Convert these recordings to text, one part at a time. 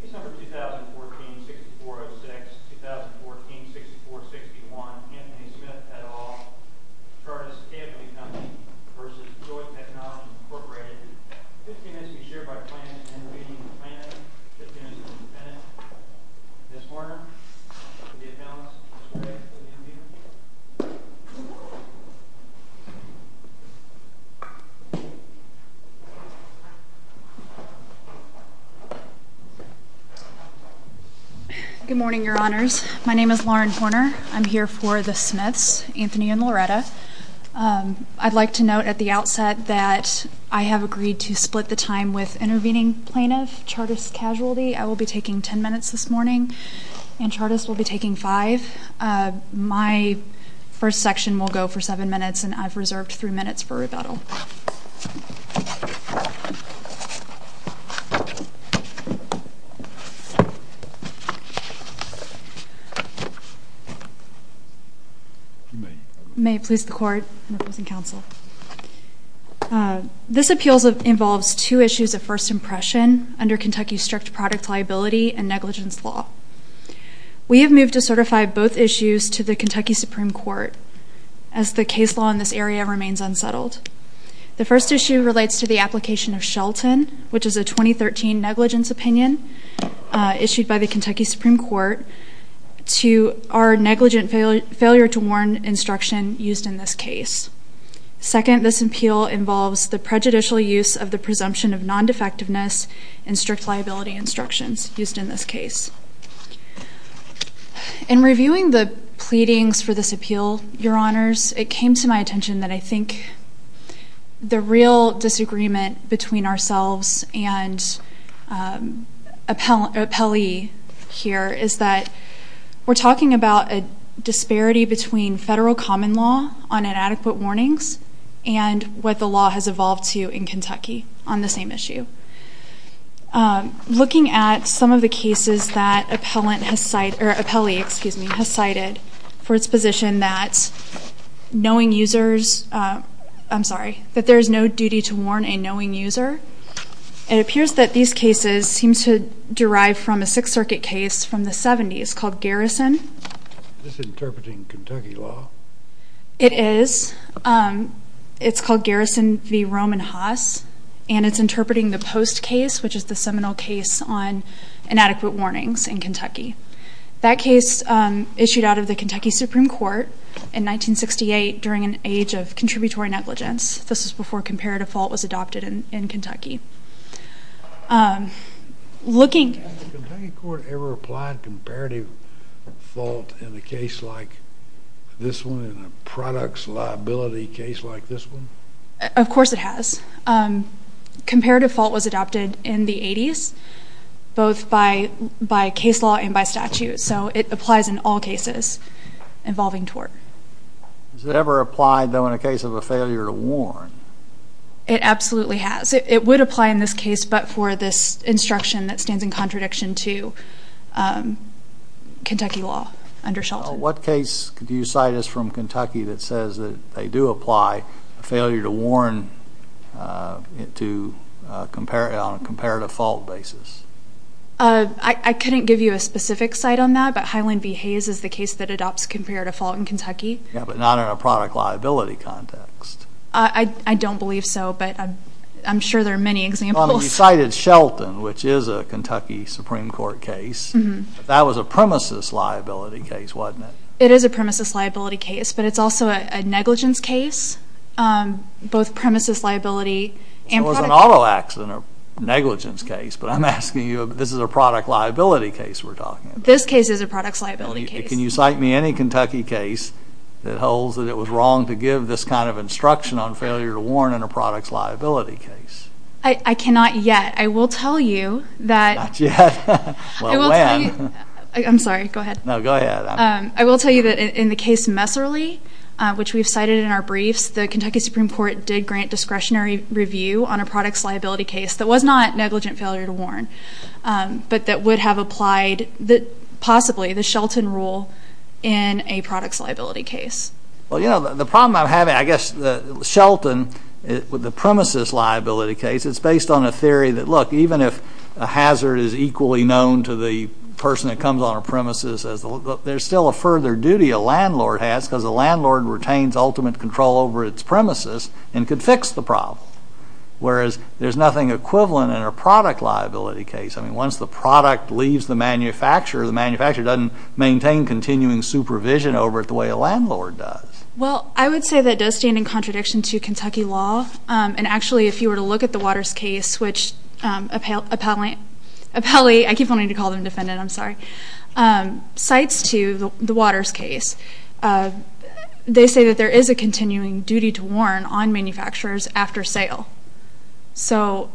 Case number 2014-6406, 2014-6461, Anthony Smith et al. Chartis Casualty v. Joy Technologies Inc. 15 minutes to be shared by plan and awaiting the planning. 15 minutes to be suspended. Ms. Horner, for the announcement. Ms. Craig, for the interview. Good morning, Your Honors. My name is Lauren Horner. I'm here for the Smiths, Anthony and Loretta. I'd like to note at the outset that I have agreed to split the time with intervening plaintiff, Chartis Casualty. I will be taking 10 minutes this morning, and Chartis will be taking 5. My first section will go for 7 minutes, and I've reserved 3 minutes for rebuttal. May it please the Court and opposing counsel. This appeals involves two issues of first impression under Kentucky's strict product liability and negligence law. We have moved to certify both issues to the Kentucky Supreme Court, as the case law in this area remains unsettled. The first issue relates to the application of Shelton, which is a 2013 negligence opinion issued by the Kentucky Supreme Court, to our negligent failure to warn instruction used in this case. Second, this appeal involves the prejudicial use of the presumption of non-defectiveness and strict liability instructions used in this case. In reviewing the pleadings for this appeal, Your Honors, it came to my attention that I think the real disagreement between ourselves and an appellee here is that we're talking about a disparity between federal common law on inadequate warnings and what the law has evolved to in Kentucky on the same issue. Looking at some of the cases that appellee has cited for its position that there is no duty to warn a knowing user, it appears that these cases seem to derive from a Sixth Circuit case from the 70s called Garrison. Is this interpreting Kentucky law? It is. It's called Garrison v. Roman Haas, and it's interpreting the Post case, which is the seminal case on inadequate warnings in Kentucky. That case issued out of the Kentucky Supreme Court in 1968 during an age of contributory negligence. This was before comparative fault was adopted in Kentucky. Has Kentucky court ever applied comparative fault in a case like this one, in a products liability case like this one? Of course it has. Comparative fault was adopted in the 80s, both by case law and by statute, so it applies in all cases involving tort. Has it ever applied, though, in a case of a failure to warn? It absolutely has. It would apply in this case, but for this instruction that stands in contradiction to Kentucky law under Shelton. What case do you cite as from Kentucky that says that they do apply a failure to warn on a comparative fault basis? I couldn't give you a specific cite on that, but Highland v. Haas is the case that adopts comparative fault in Kentucky. Yeah, but not in a product liability context. I don't believe so, but I'm sure there are many examples. You cited Shelton, which is a Kentucky Supreme Court case. That was a premises liability case, wasn't it? It is a premises liability case, but it's also a negligence case, both premises liability and product liability. So it was an auto accident or negligence case, but I'm asking you, this is a product liability case we're talking about. This case is a products liability case. Can you cite me any Kentucky case that holds that it was wrong to give this kind of instruction on failure to warn in a products liability case? I cannot yet. I will tell you that- Not yet? Well, when? I'm sorry. Go ahead. No, go ahead. I will tell you that in the case Messerly, which we've cited in our briefs, the Kentucky Supreme Court did grant discretionary review on a products liability case that was not negligent failure to warn, but that would have applied, possibly, the Shelton rule in a products liability case. Well, you know, the problem I'm having, I guess, Shelton, with the premises liability case, it's based on a theory that, look, even if a hazard is equally known to the person that comes on a premises, there's still a further duty a landlord has because a landlord retains ultimate control over its premises and can fix the problem. Whereas there's nothing equivalent in a product liability case. I mean, once the product leaves the manufacturer, the manufacturer doesn't maintain continuing supervision over it the way a landlord does. Well, I would say that does stand in contradiction to Kentucky law. And, actually, if you were to look at the Waters case, which appellee- I keep wanting to call them defendant, I'm sorry- When it gets to the Waters case, they say that there is a continuing duty to warn on manufacturers after sale. So-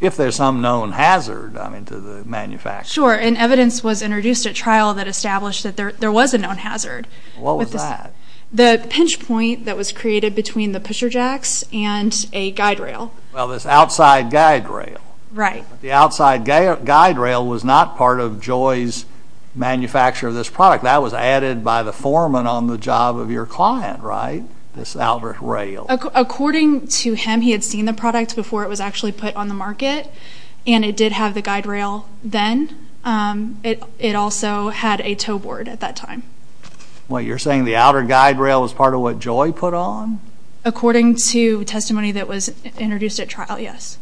If there's some known hazard, I mean, to the manufacturer. Sure, and evidence was introduced at trial that established that there was a known hazard. What was that? The pinch point that was created between the pusher jacks and a guide rail. Well, this outside guide rail. Right. The outside guide rail was not part of Joy's manufacture of this product. That was added by the foreman on the job of your client, right? This outer rail. According to him, he had seen the product before it was actually put on the market. And it did have the guide rail then. It also had a tow board at that time. What, you're saying the outer guide rail was part of what Joy put on? According to testimony that was introduced at trial, yes.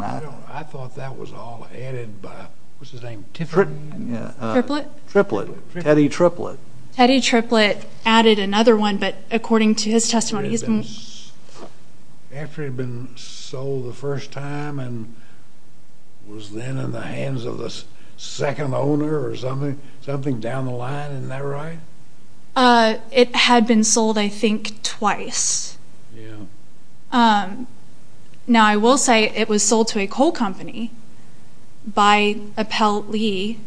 I thought that was all added by, what's his name? Triplett? Triplett. Teddy Triplett. Teddy Triplett added another one, but according to his testimony, he's been- After it had been sold the first time and was then in the hands of the second owner or something down the line, isn't that right? It had been sold, I think, twice. Yeah. Now, I will say it was sold to a coal company by Appell Lee.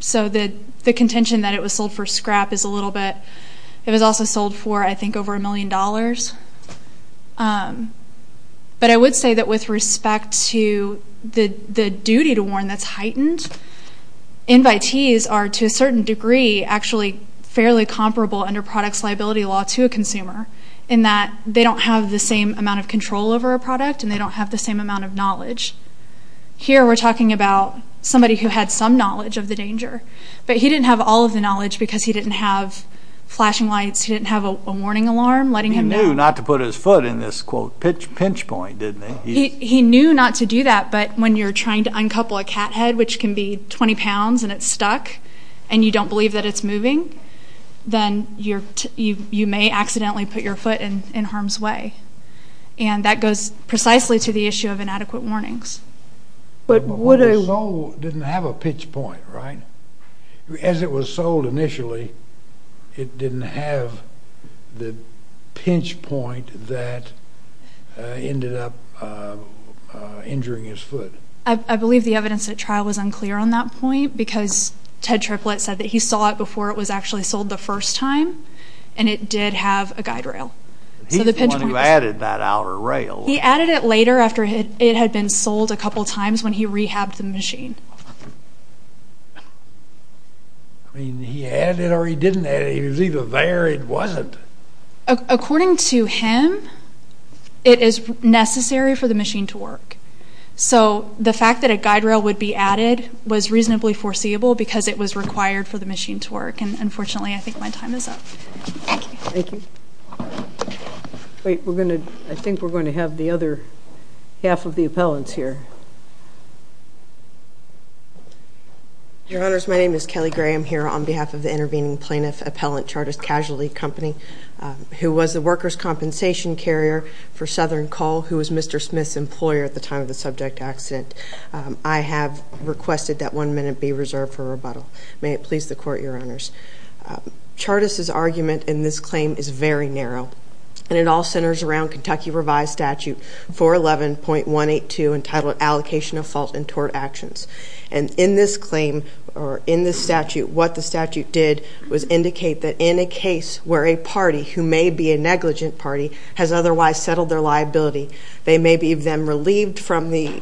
So the contention that it was sold for scrap is a little bit- It was also sold for, I think, over a million dollars. But I would say that with respect to the duty to warn that's heightened, invitees are, to a certain degree, actually fairly comparable under products liability law to a consumer in that they don't have the same amount of control over a product and they don't have the same amount of knowledge. Here we're talking about somebody who had some knowledge of the danger, but he didn't have all of the knowledge because he didn't have flashing lights, he didn't have a warning alarm letting him know- He knew not to put his foot in this, quote, pinch point, didn't he? He knew not to do that, but when you're trying to uncouple a cat head, which can be 20 pounds and it's stuck, and you don't believe that it's moving, then you may accidentally put your foot in harm's way. And that goes precisely to the issue of inadequate warnings. But what if it didn't have a pinch point, right? As it was sold initially, it didn't have the pinch point that ended up injuring his foot. I believe the evidence at trial was unclear on that point, because Ted Triplett said that he saw it before it was actually sold the first time, and it did have a guide rail. He's the one who added that outer rail. He added it later after it had been sold a couple times when he rehabbed the machine. He added it or he didn't add it. He was either there or he wasn't. According to him, it is necessary for the machine to work. So the fact that a guide rail would be added was reasonably foreseeable because it was required for the machine to work. And unfortunately, I think my time is up. Thank you. Thank you. I think we're going to have the other half of the appellants here. Your Honors, my name is Kelly Gray. I'm here on behalf of the intervening plaintiff, Appellant Chartis Casualty Company, who was the workers' compensation carrier for Southern Coal, who was Mr. Smith's employer at the time of the subject accident. I have requested that one minute be reserved for rebuttal. May it please the Court, Your Honors. Chartis' argument in this claim is very narrow, and it all centers around Kentucky Revised Statute 411.182 entitled Allocation of Fault and Tort Actions. And in this claim or in this statute, what the statute did was indicate that in a case where a party, who may be a negligent party, has otherwise settled their liability, they may be then relieved from the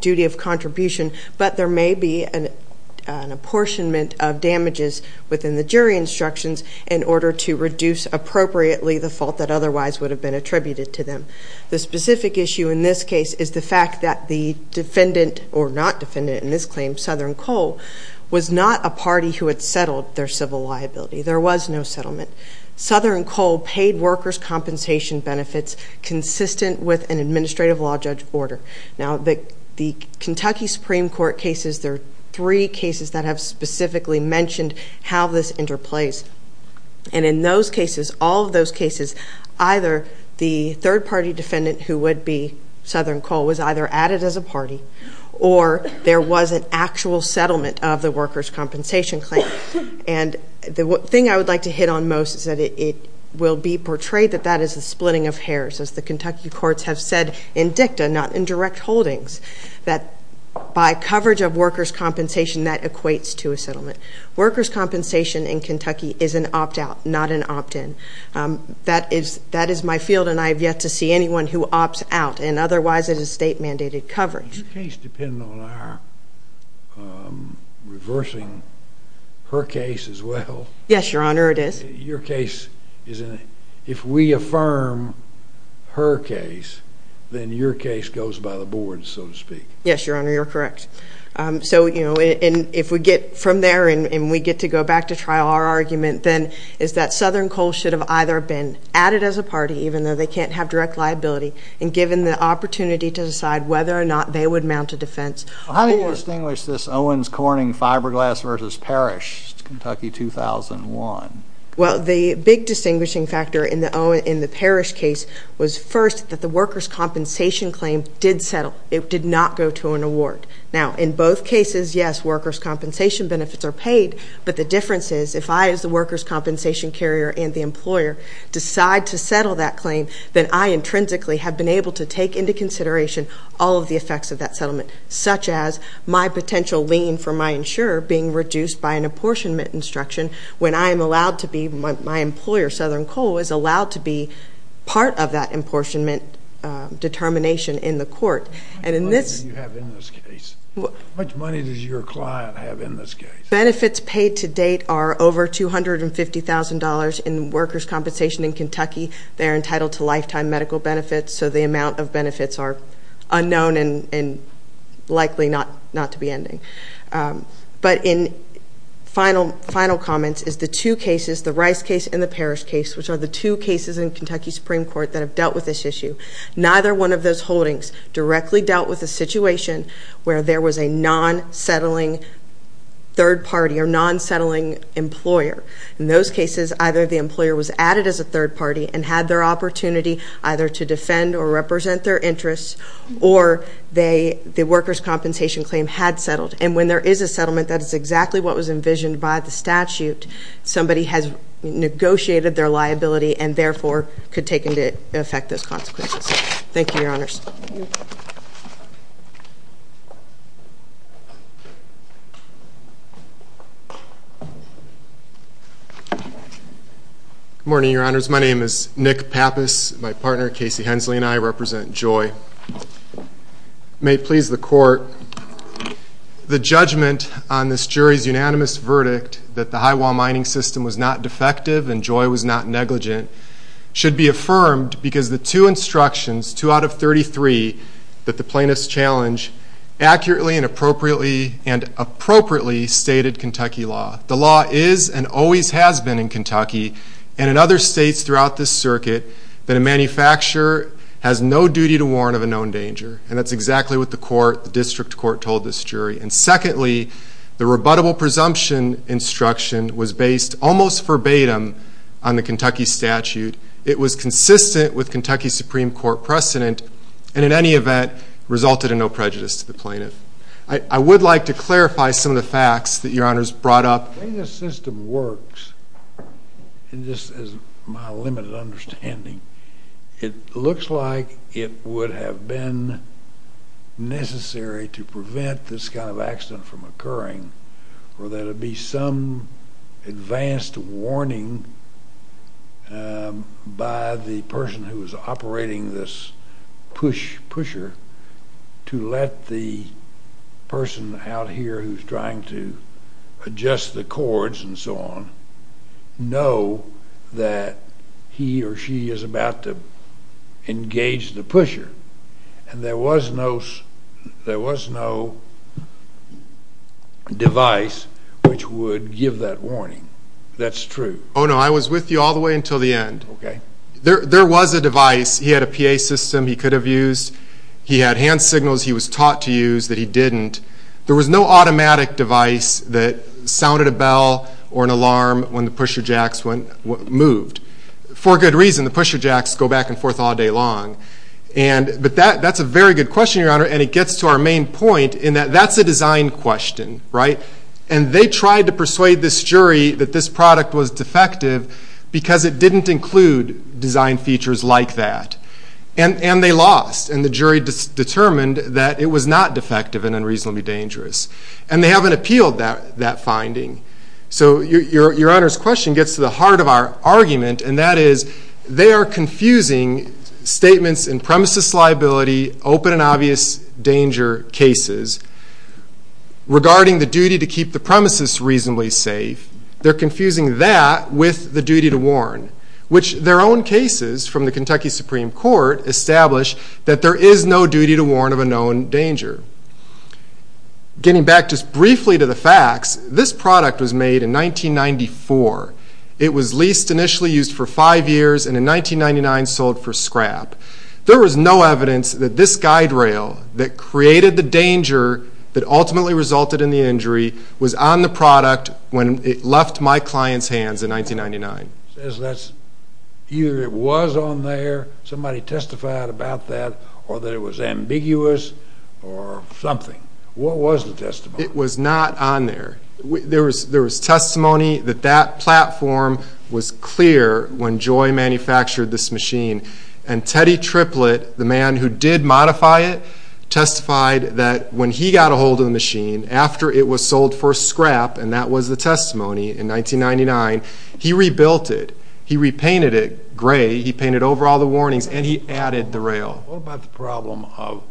duty of contribution, but there may be an apportionment of damages within the jury instructions in order to reduce appropriately the fault that otherwise would have been attributed to them. The specific issue in this case is the fact that the defendant or not defendant in this claim, Southern Coal, was not a party who had settled their civil liability. There was no settlement. Southern Coal paid workers' compensation benefits consistent with an administrative law judge order. Now, the Kentucky Supreme Court cases, there are three cases that have specifically mentioned how this interplays. And in those cases, all of those cases, either the third-party defendant, who would be Southern Coal, was either added as a party or there was an actual settlement of the workers' compensation claim. And the thing I would like to hit on most is that it will be portrayed that that is a splitting of hairs, as the Kentucky courts have said in dicta, not in direct holdings, that by coverage of workers' compensation, that equates to a settlement. Workers' compensation in Kentucky is an opt-out, not an opt-in. That is my field, and I have yet to see anyone who opts out, and otherwise it is state-mandated coverage. Does your case depend on our reversing her case as well? Yes, Your Honor, it is. Your case is, if we affirm her case, then your case goes by the board, so to speak. Yes, Your Honor, you're correct. So, you know, if we get from there and we get to go back to trial, our argument then is that Southern Coal should have either been added as a party, even though they can't have direct liability, and given the opportunity to decide whether or not they would mount a defense. How do you distinguish this Owens-Corning fiberglass versus Parrish, Kentucky 2001? Well, the big distinguishing factor in the Parrish case was, first, that the workers' compensation claim did settle. It did not go to an award. Now, in both cases, yes, workers' compensation benefits are paid, but the difference is, if I, as the workers' compensation carrier and the employer, decide to settle that claim, then I intrinsically have been able to take into consideration all of the effects of that settlement, such as my potential lien for my insurer being reduced by an apportionment instruction when I am allowed to be, my employer, Southern Coal, is allowed to be part of that apportionment determination in the court. How much money do you have in this case? How much money does your client have in this case? Benefits paid to date are over $250,000 in workers' compensation in Kentucky. They're entitled to lifetime medical benefits, so the amount of benefits are unknown and likely not to be ending. But in final comments is the two cases, the Rice case and the Parrish case, which are the two cases in Kentucky Supreme Court that have dealt with this issue. Neither one of those holdings directly dealt with the situation where there was a non-settling third party or non-settling employer. In those cases, either the employer was added as a third party and had their opportunity either to defend or represent their interests, or the workers' compensation claim had settled. And when there is a settlement, that is exactly what was envisioned by the statute. Somebody has negotiated their liability and therefore could take into effect those consequences. Thank you, Your Honors. Good morning, Your Honors. My name is Nick Pappas. My partner, Casey Hensley, and I represent JOI. May it please the Court, the judgment on this jury's unanimous verdict that the high-wall mining system was not defective and JOI was not negligent should be affirmed because the two instructions, two out of 33 of those instructions, that the plaintiff's challenge accurately and appropriately stated Kentucky law. The law is and always has been in Kentucky and in other states throughout this circuit that a manufacturer has no duty to warn of a known danger. And that's exactly what the District Court told this jury. And secondly, the rebuttable presumption instruction was based almost verbatim on the Kentucky statute. It was consistent with Kentucky Supreme Court precedent and in any event resulted in no prejudice to the plaintiff. I would like to clarify some of the facts that Your Honors brought up. The way this system works, just as my limited understanding, it looks like it would have been necessary to prevent this kind of accident from occurring or there would be some advanced warning by the person who was operating this pusher to let the person out here who's trying to adjust the cords and so on know that he or she is about to engage the pusher. And there was no device which would give that warning. That's true. Oh, no, I was with you all the way until the end. Okay. There was a device. He had a PA system he could have used. He had hand signals he was taught to use that he didn't. There was no automatic device that sounded a bell or an alarm when the pusher jacks moved. For good reason. The pusher jacks go back and forth all day long. But that's a very good question, Your Honor, and it gets to our main point in that that's a design question, right? And they tried to persuade this jury that this product was defective because it didn't include design features like that. And they lost, and the jury determined that it was not defective and unreasonably dangerous. And they haven't appealed that finding. So Your Honor's question gets to the heart of our argument, and that is they are confusing statements in premises liability, open and obvious danger cases, regarding the duty to keep the premises reasonably safe. They're confusing that with the duty to warn, which their own cases from the Kentucky Supreme Court establish that there is no duty to warn of a known danger. Getting back just briefly to the facts, this product was made in 1994. It was leased initially used for five years and in 1999 sold for scrap. There was no evidence that this guide rail that created the danger that ultimately resulted in the injury was on the product when it left my client's hands in 1999. It says that either it was on there, somebody testified about that, or that it was ambiguous or something. What was the testimony? It was not on there. There was testimony that that platform was clear when Joy manufactured this machine. And Teddy Triplett, the man who did modify it, testified that when he got a hold of the machine after it was sold for scrap, and that was the testimony in 1999, he rebuilt it. He repainted it gray. He painted over all the warnings, and he added the rail. What about the problem of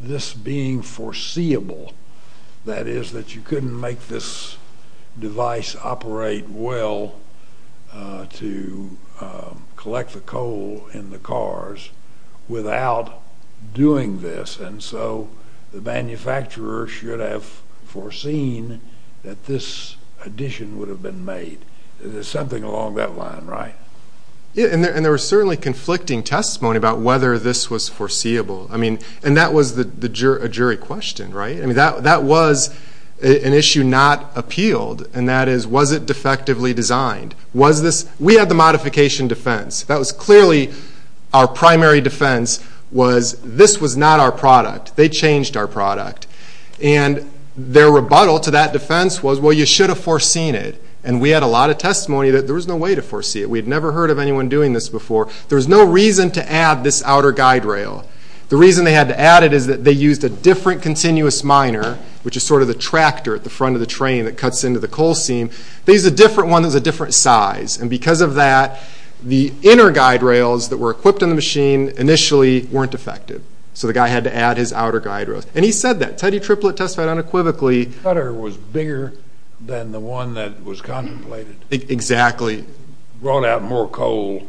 this being foreseeable? That is that you couldn't make this device operate well to collect the coal in the cars without doing this, and so the manufacturer should have foreseen that this addition would have been made. There's something along that line, right? And there was certainly conflicting testimony about whether this was foreseeable. I mean, and that was a jury question, right? I mean, that was an issue not appealed, and that is, was it defectively designed? We had the modification defense. That was clearly our primary defense was this was not our product. They changed our product. And their rebuttal to that defense was, well, you should have foreseen it. And we had a lot of testimony that there was no way to foresee it. We had never heard of anyone doing this before. There was no reason to add this outer guide rail. The reason they had to add it is that they used a different continuous miner, which is sort of the tractor at the front of the train that cuts into the coal seam. They used a different one that was a different size, and because of that, the inner guide rails that were equipped in the machine initially weren't effective. So the guy had to add his outer guide rails. And he said that. Teddy Triplett testified unequivocally. The cutter was bigger than the one that was contemplated. Exactly. Brought out more coal.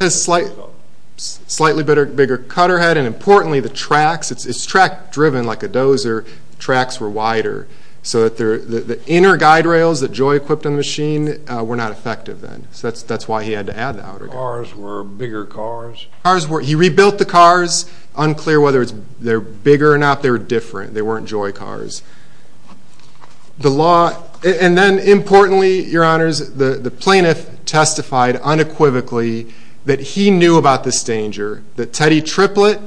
Slightly bigger cutter head, and importantly, the tracks. It's track-driven like a dozer. Tracks were wider. So the inner guide rails that Joy equipped on the machine were not effective then. So that's why he had to add the outer guide rails. Cars were bigger cars. Cars were. He rebuilt the cars. Unclear whether they're bigger or not. They were different. They weren't Joy cars. And then, importantly, Your Honors, the plaintiff testified unequivocally that he knew about this danger. That Teddy Triplett,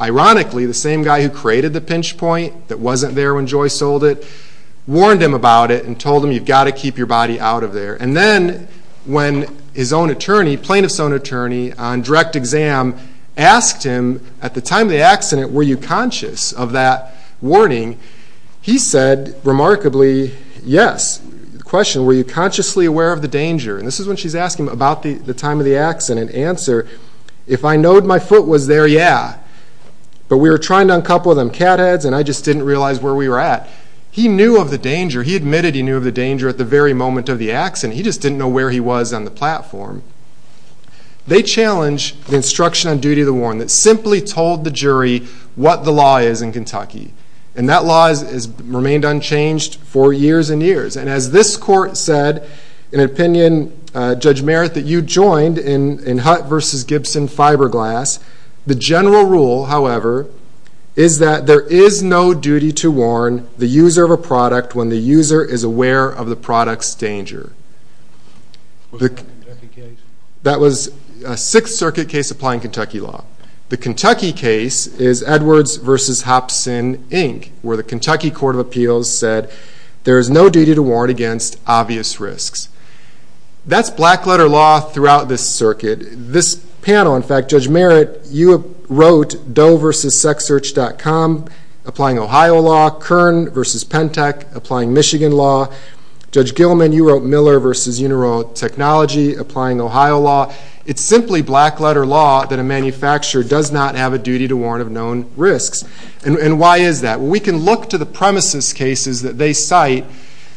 ironically, the same guy who created the pinch point that wasn't there when Joy sold it, warned him about it and told him, you've got to keep your body out of there. And then when his own attorney, plaintiff's own attorney, on direct exam asked him, at the time of the accident, were you conscious of that warning? He said, remarkably, yes. The question, were you consciously aware of the danger? And this is when she's asking about the time of the accident. The answer, if I know my foot was there, yeah. But we were trying to uncouple them cat heads, and I just didn't realize where we were at. He knew of the danger. He admitted he knew of the danger at the very moment of the accident. He just didn't know where he was on the platform. They challenged the instruction on duty of the warrant that simply told the jury what the law is in Kentucky. And that law has remained unchanged for years and years. And as this court said in an opinion, Judge Merritt, that you joined in Hutt v. Gibson fiberglass, the general rule, however, is that there is no duty to warn the user of a product when the user is aware of the product's danger. That was a Sixth Circuit case applying Kentucky law. The Kentucky case is Edwards v. Hopson, Inc., where the Kentucky Court of Appeals said there is no duty to warrant against obvious risks. That's black-letter law throughout this circuit. This panel, in fact, Judge Merritt, you wrote Doe v. SexSearch.com applying Ohio law, Kern v. Pentec applying Michigan law. Judge Gilman, you wrote Miller v. Uniroyal Technology applying Ohio law. It's simply black-letter law that a manufacturer does not have a duty to warrant of known risks. And why is that? We can look to the premises cases that they cite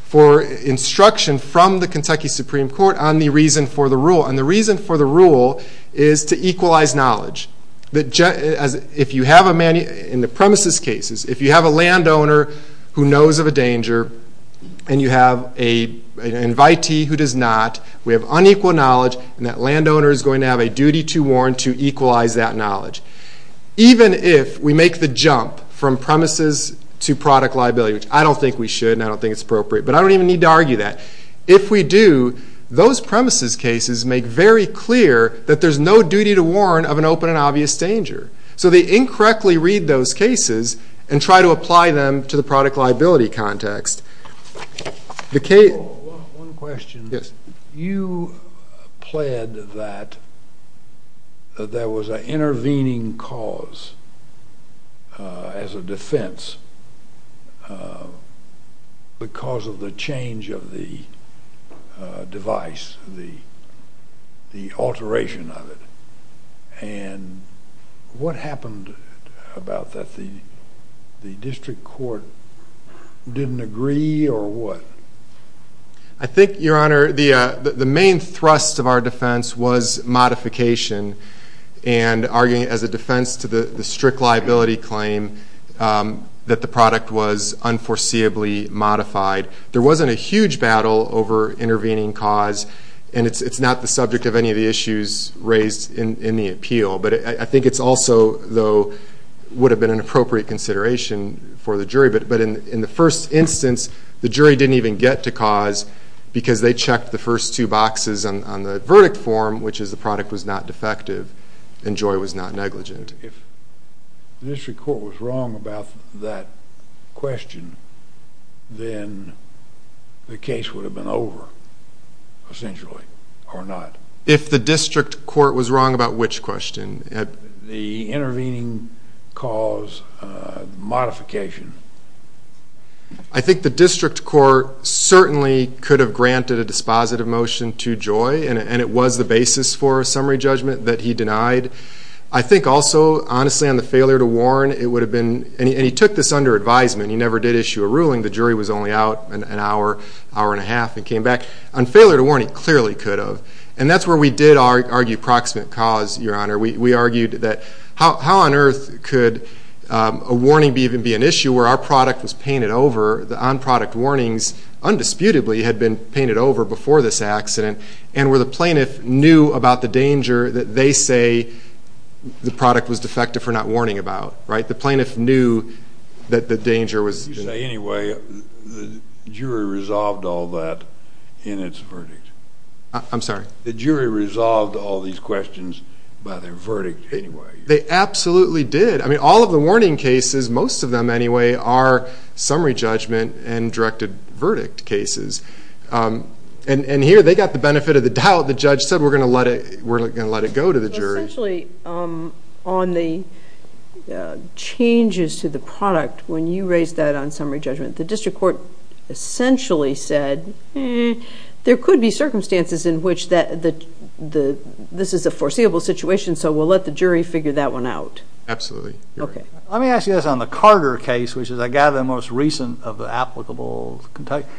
for instruction from the Kentucky Supreme Court on the reason for the rule. And the reason for the rule is to equalize knowledge. If you have a man in the premises cases, if you have a landowner who knows of a danger and you have an invitee who does not, we have unequal knowledge and that landowner is going to have a duty to warrant to equalize that knowledge. Even if we make the jump from premises to product liability, which I don't think we should and I don't think it's appropriate, but I don't even need to argue that. If we do, those premises cases make very clear that there's no duty to warrant of an open and obvious danger. So they incorrectly read those cases and try to apply them to the product liability context. One question. Yes. You pled that there was an intervening cause as a defense because of the change of the device, the alteration of it. And what happened about that? The district court didn't agree or what? I think, Your Honor, the main thrust of our defense was modification and arguing as a defense to the strict liability claim that the product was unforeseeably modified. There wasn't a huge battle over intervening cause and it's not the subject of any of the issues raised in the appeal. But I think it's also, though, would have been an appropriate consideration for the jury. But in the first instance, the jury didn't even get to cause because they checked the first two boxes on the verdict form, which is the product was not defective and Joy was not negligent. If the district court was wrong about that question, then the case would have been over, essentially, or not. If the district court was wrong about which question? The intervening cause modification. I think the district court certainly could have granted a dispositive motion to Joy and it was the basis for a summary judgment that he denied. I think also, honestly, on the failure to warn, it would have been, and he took this under advisement. He never did issue a ruling. The jury was only out an hour, hour and a half and came back. On failure to warn, he clearly could have. And that's where we did argue proximate cause, Your Honor. We argued that how on earth could a warning even be an issue where our product was painted over, the on-product warnings undisputably had been painted over before this accident, and where the plaintiff knew about the danger that they say the product was defective for not warning about. Right? The plaintiff knew that the danger was... You say anyway. The jury resolved all that in its verdict. I'm sorry? The jury resolved all these questions by their verdict anyway. They absolutely did. I mean, all of the warning cases, most of them anyway, are summary judgment and directed verdict cases. And here they got the benefit of the doubt. The judge said we're going to let it go to the jury. Essentially, on the changes to the product, when you raised that on summary judgment, the district court essentially said there could be circumstances in which this is a foreseeable situation, so we'll let the jury figure that one out. Absolutely. Let me ask you this on the Carter case, which is, I gather, the most recent of the applicable...... comparative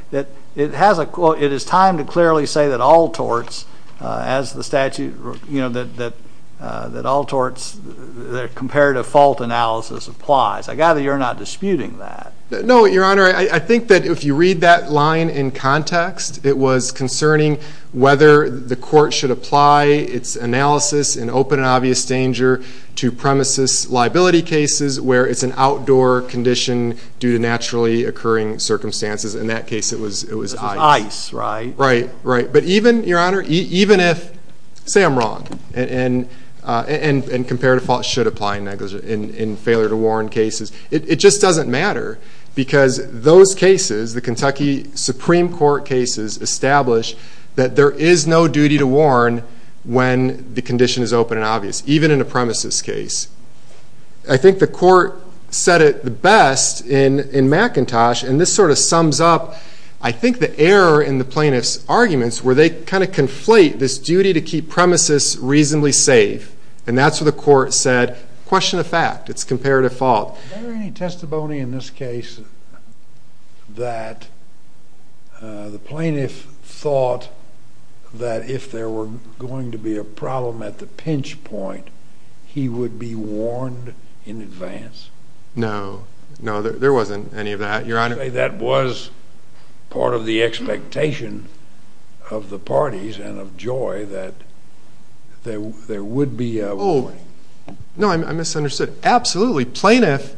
fault analysis applies. I gather you're not disputing that. No, Your Honor. I think that if you read that line in context, it was concerning whether the court should apply its analysis in open and obvious danger to premises liability cases where it's an outdoor condition due to naturally occurring circumstances. In that case, it was ice. Ice, right? Right. But even, Your Honor, even if... Say I'm wrong. And comparative fault should apply in failure to warn cases. It just doesn't matter because those cases, the Kentucky Supreme Court cases, established that there is no duty to warn when the condition is open and obvious, even in a premises case. I think the court said it best in McIntosh, and this sort of sums up, I think, the error in the plaintiff's arguments where they kind of conflate this duty to keep premises reasonably safe, and that's what the court said. Question of fact. It's comparative fault. Is there any testimony in this case that the plaintiff thought that if there were going to be a problem at the pinch point, he would be warned in advance? No. No, there wasn't any of that, Your Honor. That was part of the expectation of the parties and of Joy that there would be a warning. Oh, no, I misunderstood. Absolutely. Plaintiff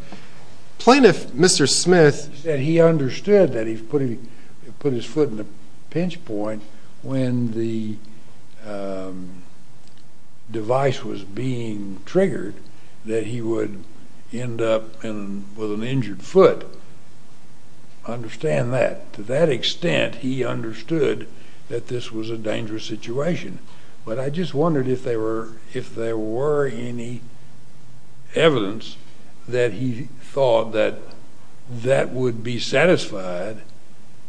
Mr. Smith... He said he understood that he put his foot in the pinch point when the device was being triggered that he would end up with an injured foot. I understand that. To that extent, he understood that this was a dangerous situation, but I just wondered if there were any evidence that he thought that that would be satisfied,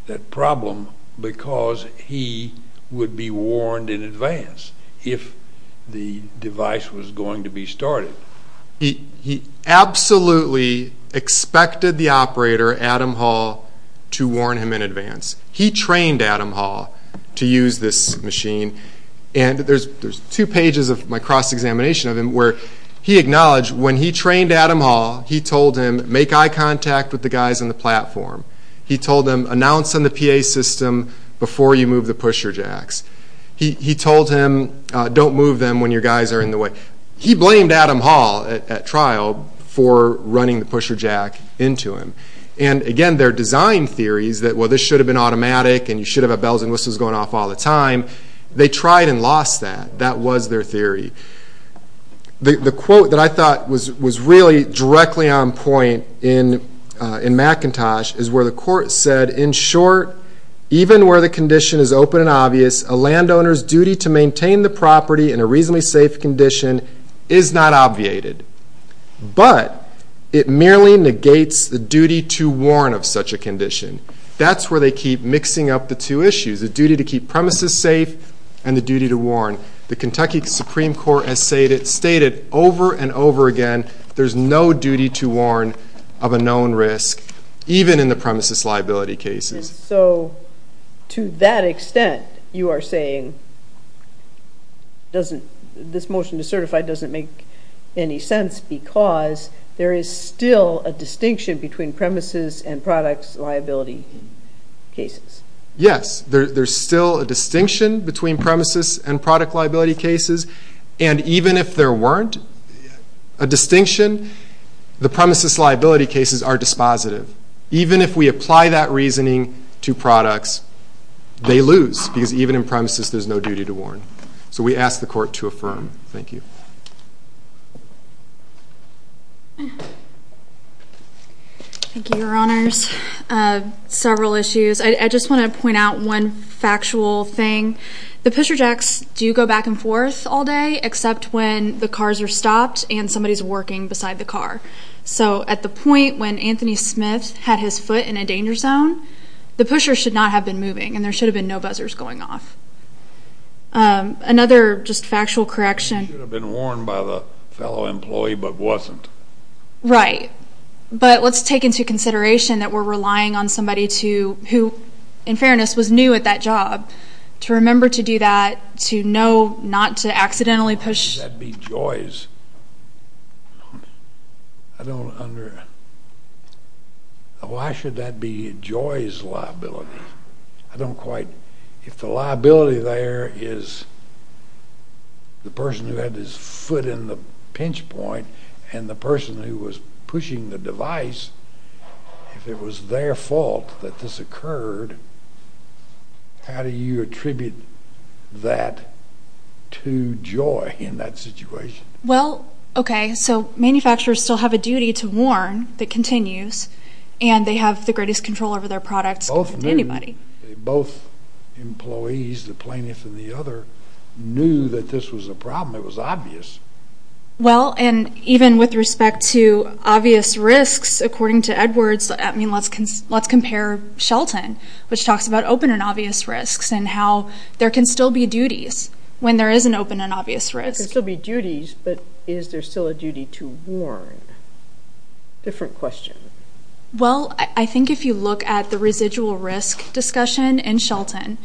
that problem, because he would be warned in advance if the device was going to be started. He absolutely expected the operator, Adam Hall, to warn him in advance. He trained Adam Hall to use this machine, and there's two pages of my cross-examination of him where he acknowledged when he trained Adam Hall, he told him, make eye contact with the guys on the platform. He told him, announce on the PA system before you move the pusher jacks. He told him, don't move them when your guys are in the way. He blamed Adam Hall at trial for running the pusher jack into him. Again, their design theories that this should have been automatic and you should have had bells and whistles going off all the time, they tried and lost that. That was their theory. The quote that I thought was really directly on point in McIntosh is where the court said, in short, even where the condition is open and obvious, a landowner's duty to maintain the property in a reasonably safe condition is not obviated. But it merely negates the duty to warn of such a condition. That's where they keep mixing up the two issues, the duty to keep premises safe and the duty to warn. The Kentucky Supreme Court has stated over and over again there's no duty to warn of a known risk, even in the premises liability cases. So to that extent you are saying this motion to certify doesn't make any sense because there is still a distinction between premises and products liability cases. Yes. There's still a distinction between premises and product liability cases. And even if there weren't a distinction, the premises liability cases are dispositive. Even if we apply that reasoning to products, they lose because even in premises there's no duty to warn. So we ask the court to affirm. Thank you. Thank you, Your Honors. Several issues. I just want to point out one factual thing. The pusher jacks do go back and forth all day, except when the cars are stopped and somebody's working beside the car. So at the point when Anthony Smith had his foot in a danger zone, the pusher should not have been moving and there should have been no buzzers going off. Another just factual correction. It should have been warned by the fellow employee but wasn't. Right. But let's take into consideration that we're relying on somebody who, in fairness, was new at that job to remember to do that, to know not to accidentally push. Why should that be Joy's? I don't understand. Why should that be Joy's liability? I don't quite. If the liability there is the person who had his foot in the pinch point and the person who was pushing the device, if it was their fault that this occurred, how do you attribute that to Joy in that situation? Well, okay, so manufacturers still have a duty to warn that continues and they have the greatest control over their products compared to anybody. Both employees, the plaintiff and the other, knew that this was a problem. It was obvious. Well, and even with respect to obvious risks, according to Edwards, I mean, let's compare Shelton, which talks about open and obvious risks and how there can still be duties when there is an open and obvious risk. There can still be duties, but is there still a duty to warn? Different question. Well, I think if you look at the residual risk discussion in Shelton,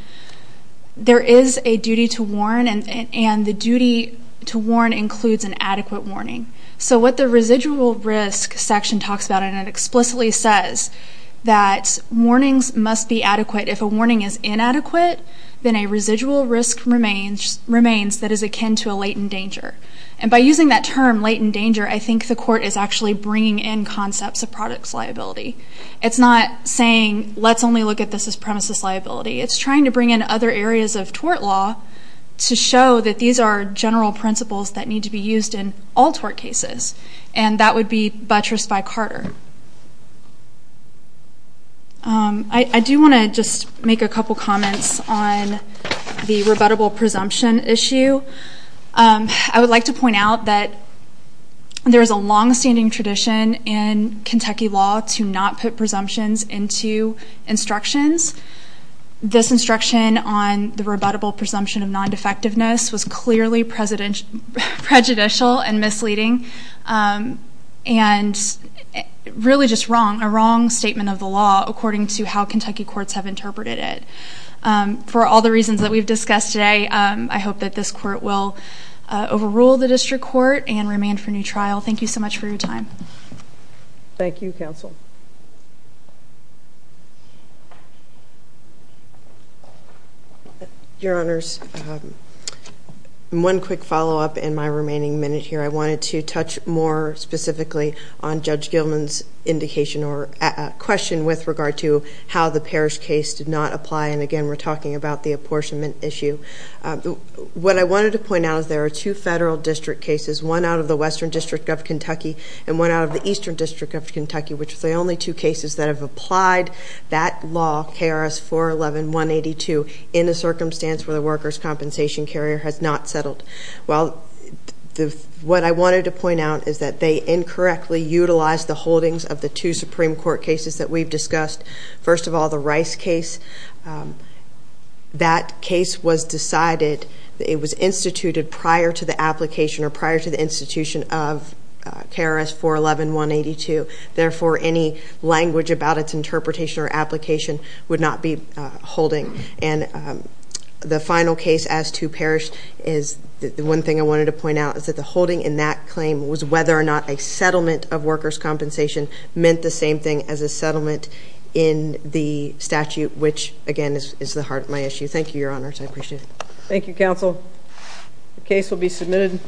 there is a duty to warn, and the duty to warn includes an adequate warning. So what the residual risk section talks about, and it explicitly says that warnings must be adequate. If a warning is inadequate, then a residual risk remains that is akin to a latent danger. And by using that term, latent danger, I think the court is actually bringing in concepts of products liability. It's not saying let's only look at this as premises liability. It's trying to bring in other areas of tort law to show that these are general principles that need to be used in all tort cases, and that would be buttress v. Carter. I do want to just make a couple comments on the rebuttable presumption issue. I would like to point out that there is a longstanding tradition in Kentucky law to not put presumptions into instructions. This instruction on the rebuttable presumption of non-defectiveness was clearly prejudicial and misleading, and really just wrong, a wrong statement of the law according to how Kentucky courts have interpreted it. For all the reasons that we've discussed today, I hope that this court will overrule the district court and remand for new trial. Thank you so much for your time. Thank you, counsel. Your Honors, one quick follow-up in my remaining minute here. I wanted to touch more specifically on Judge Gilman's indication or question with regard to how the Parrish case did not apply, and again we're talking about the apportionment issue. What I wanted to point out is there are two federal district cases, one out of the Western District of Kentucky and one out of the Eastern District of Kentucky, which is the only two cases that have applied that law, KRS 411-182, in a circumstance where the workers' compensation carrier has not settled. Well, what I wanted to point out is that they incorrectly utilized the holdings of the two Supreme Court cases that we've discussed. First of all, the Rice case. That case was decided, it was instituted prior to the application or prior to the institution of KRS 411-182. Therefore, any language about its interpretation or application would not be holding. And the final case as to Parrish is the one thing I wanted to point out is that the holding in that claim was whether or not a settlement of workers' compensation meant the same thing as a settlement in the statute, which again is the heart of my issue. Thank you, Your Honors. I appreciate it. Thank you, counsel. The case will be submitted.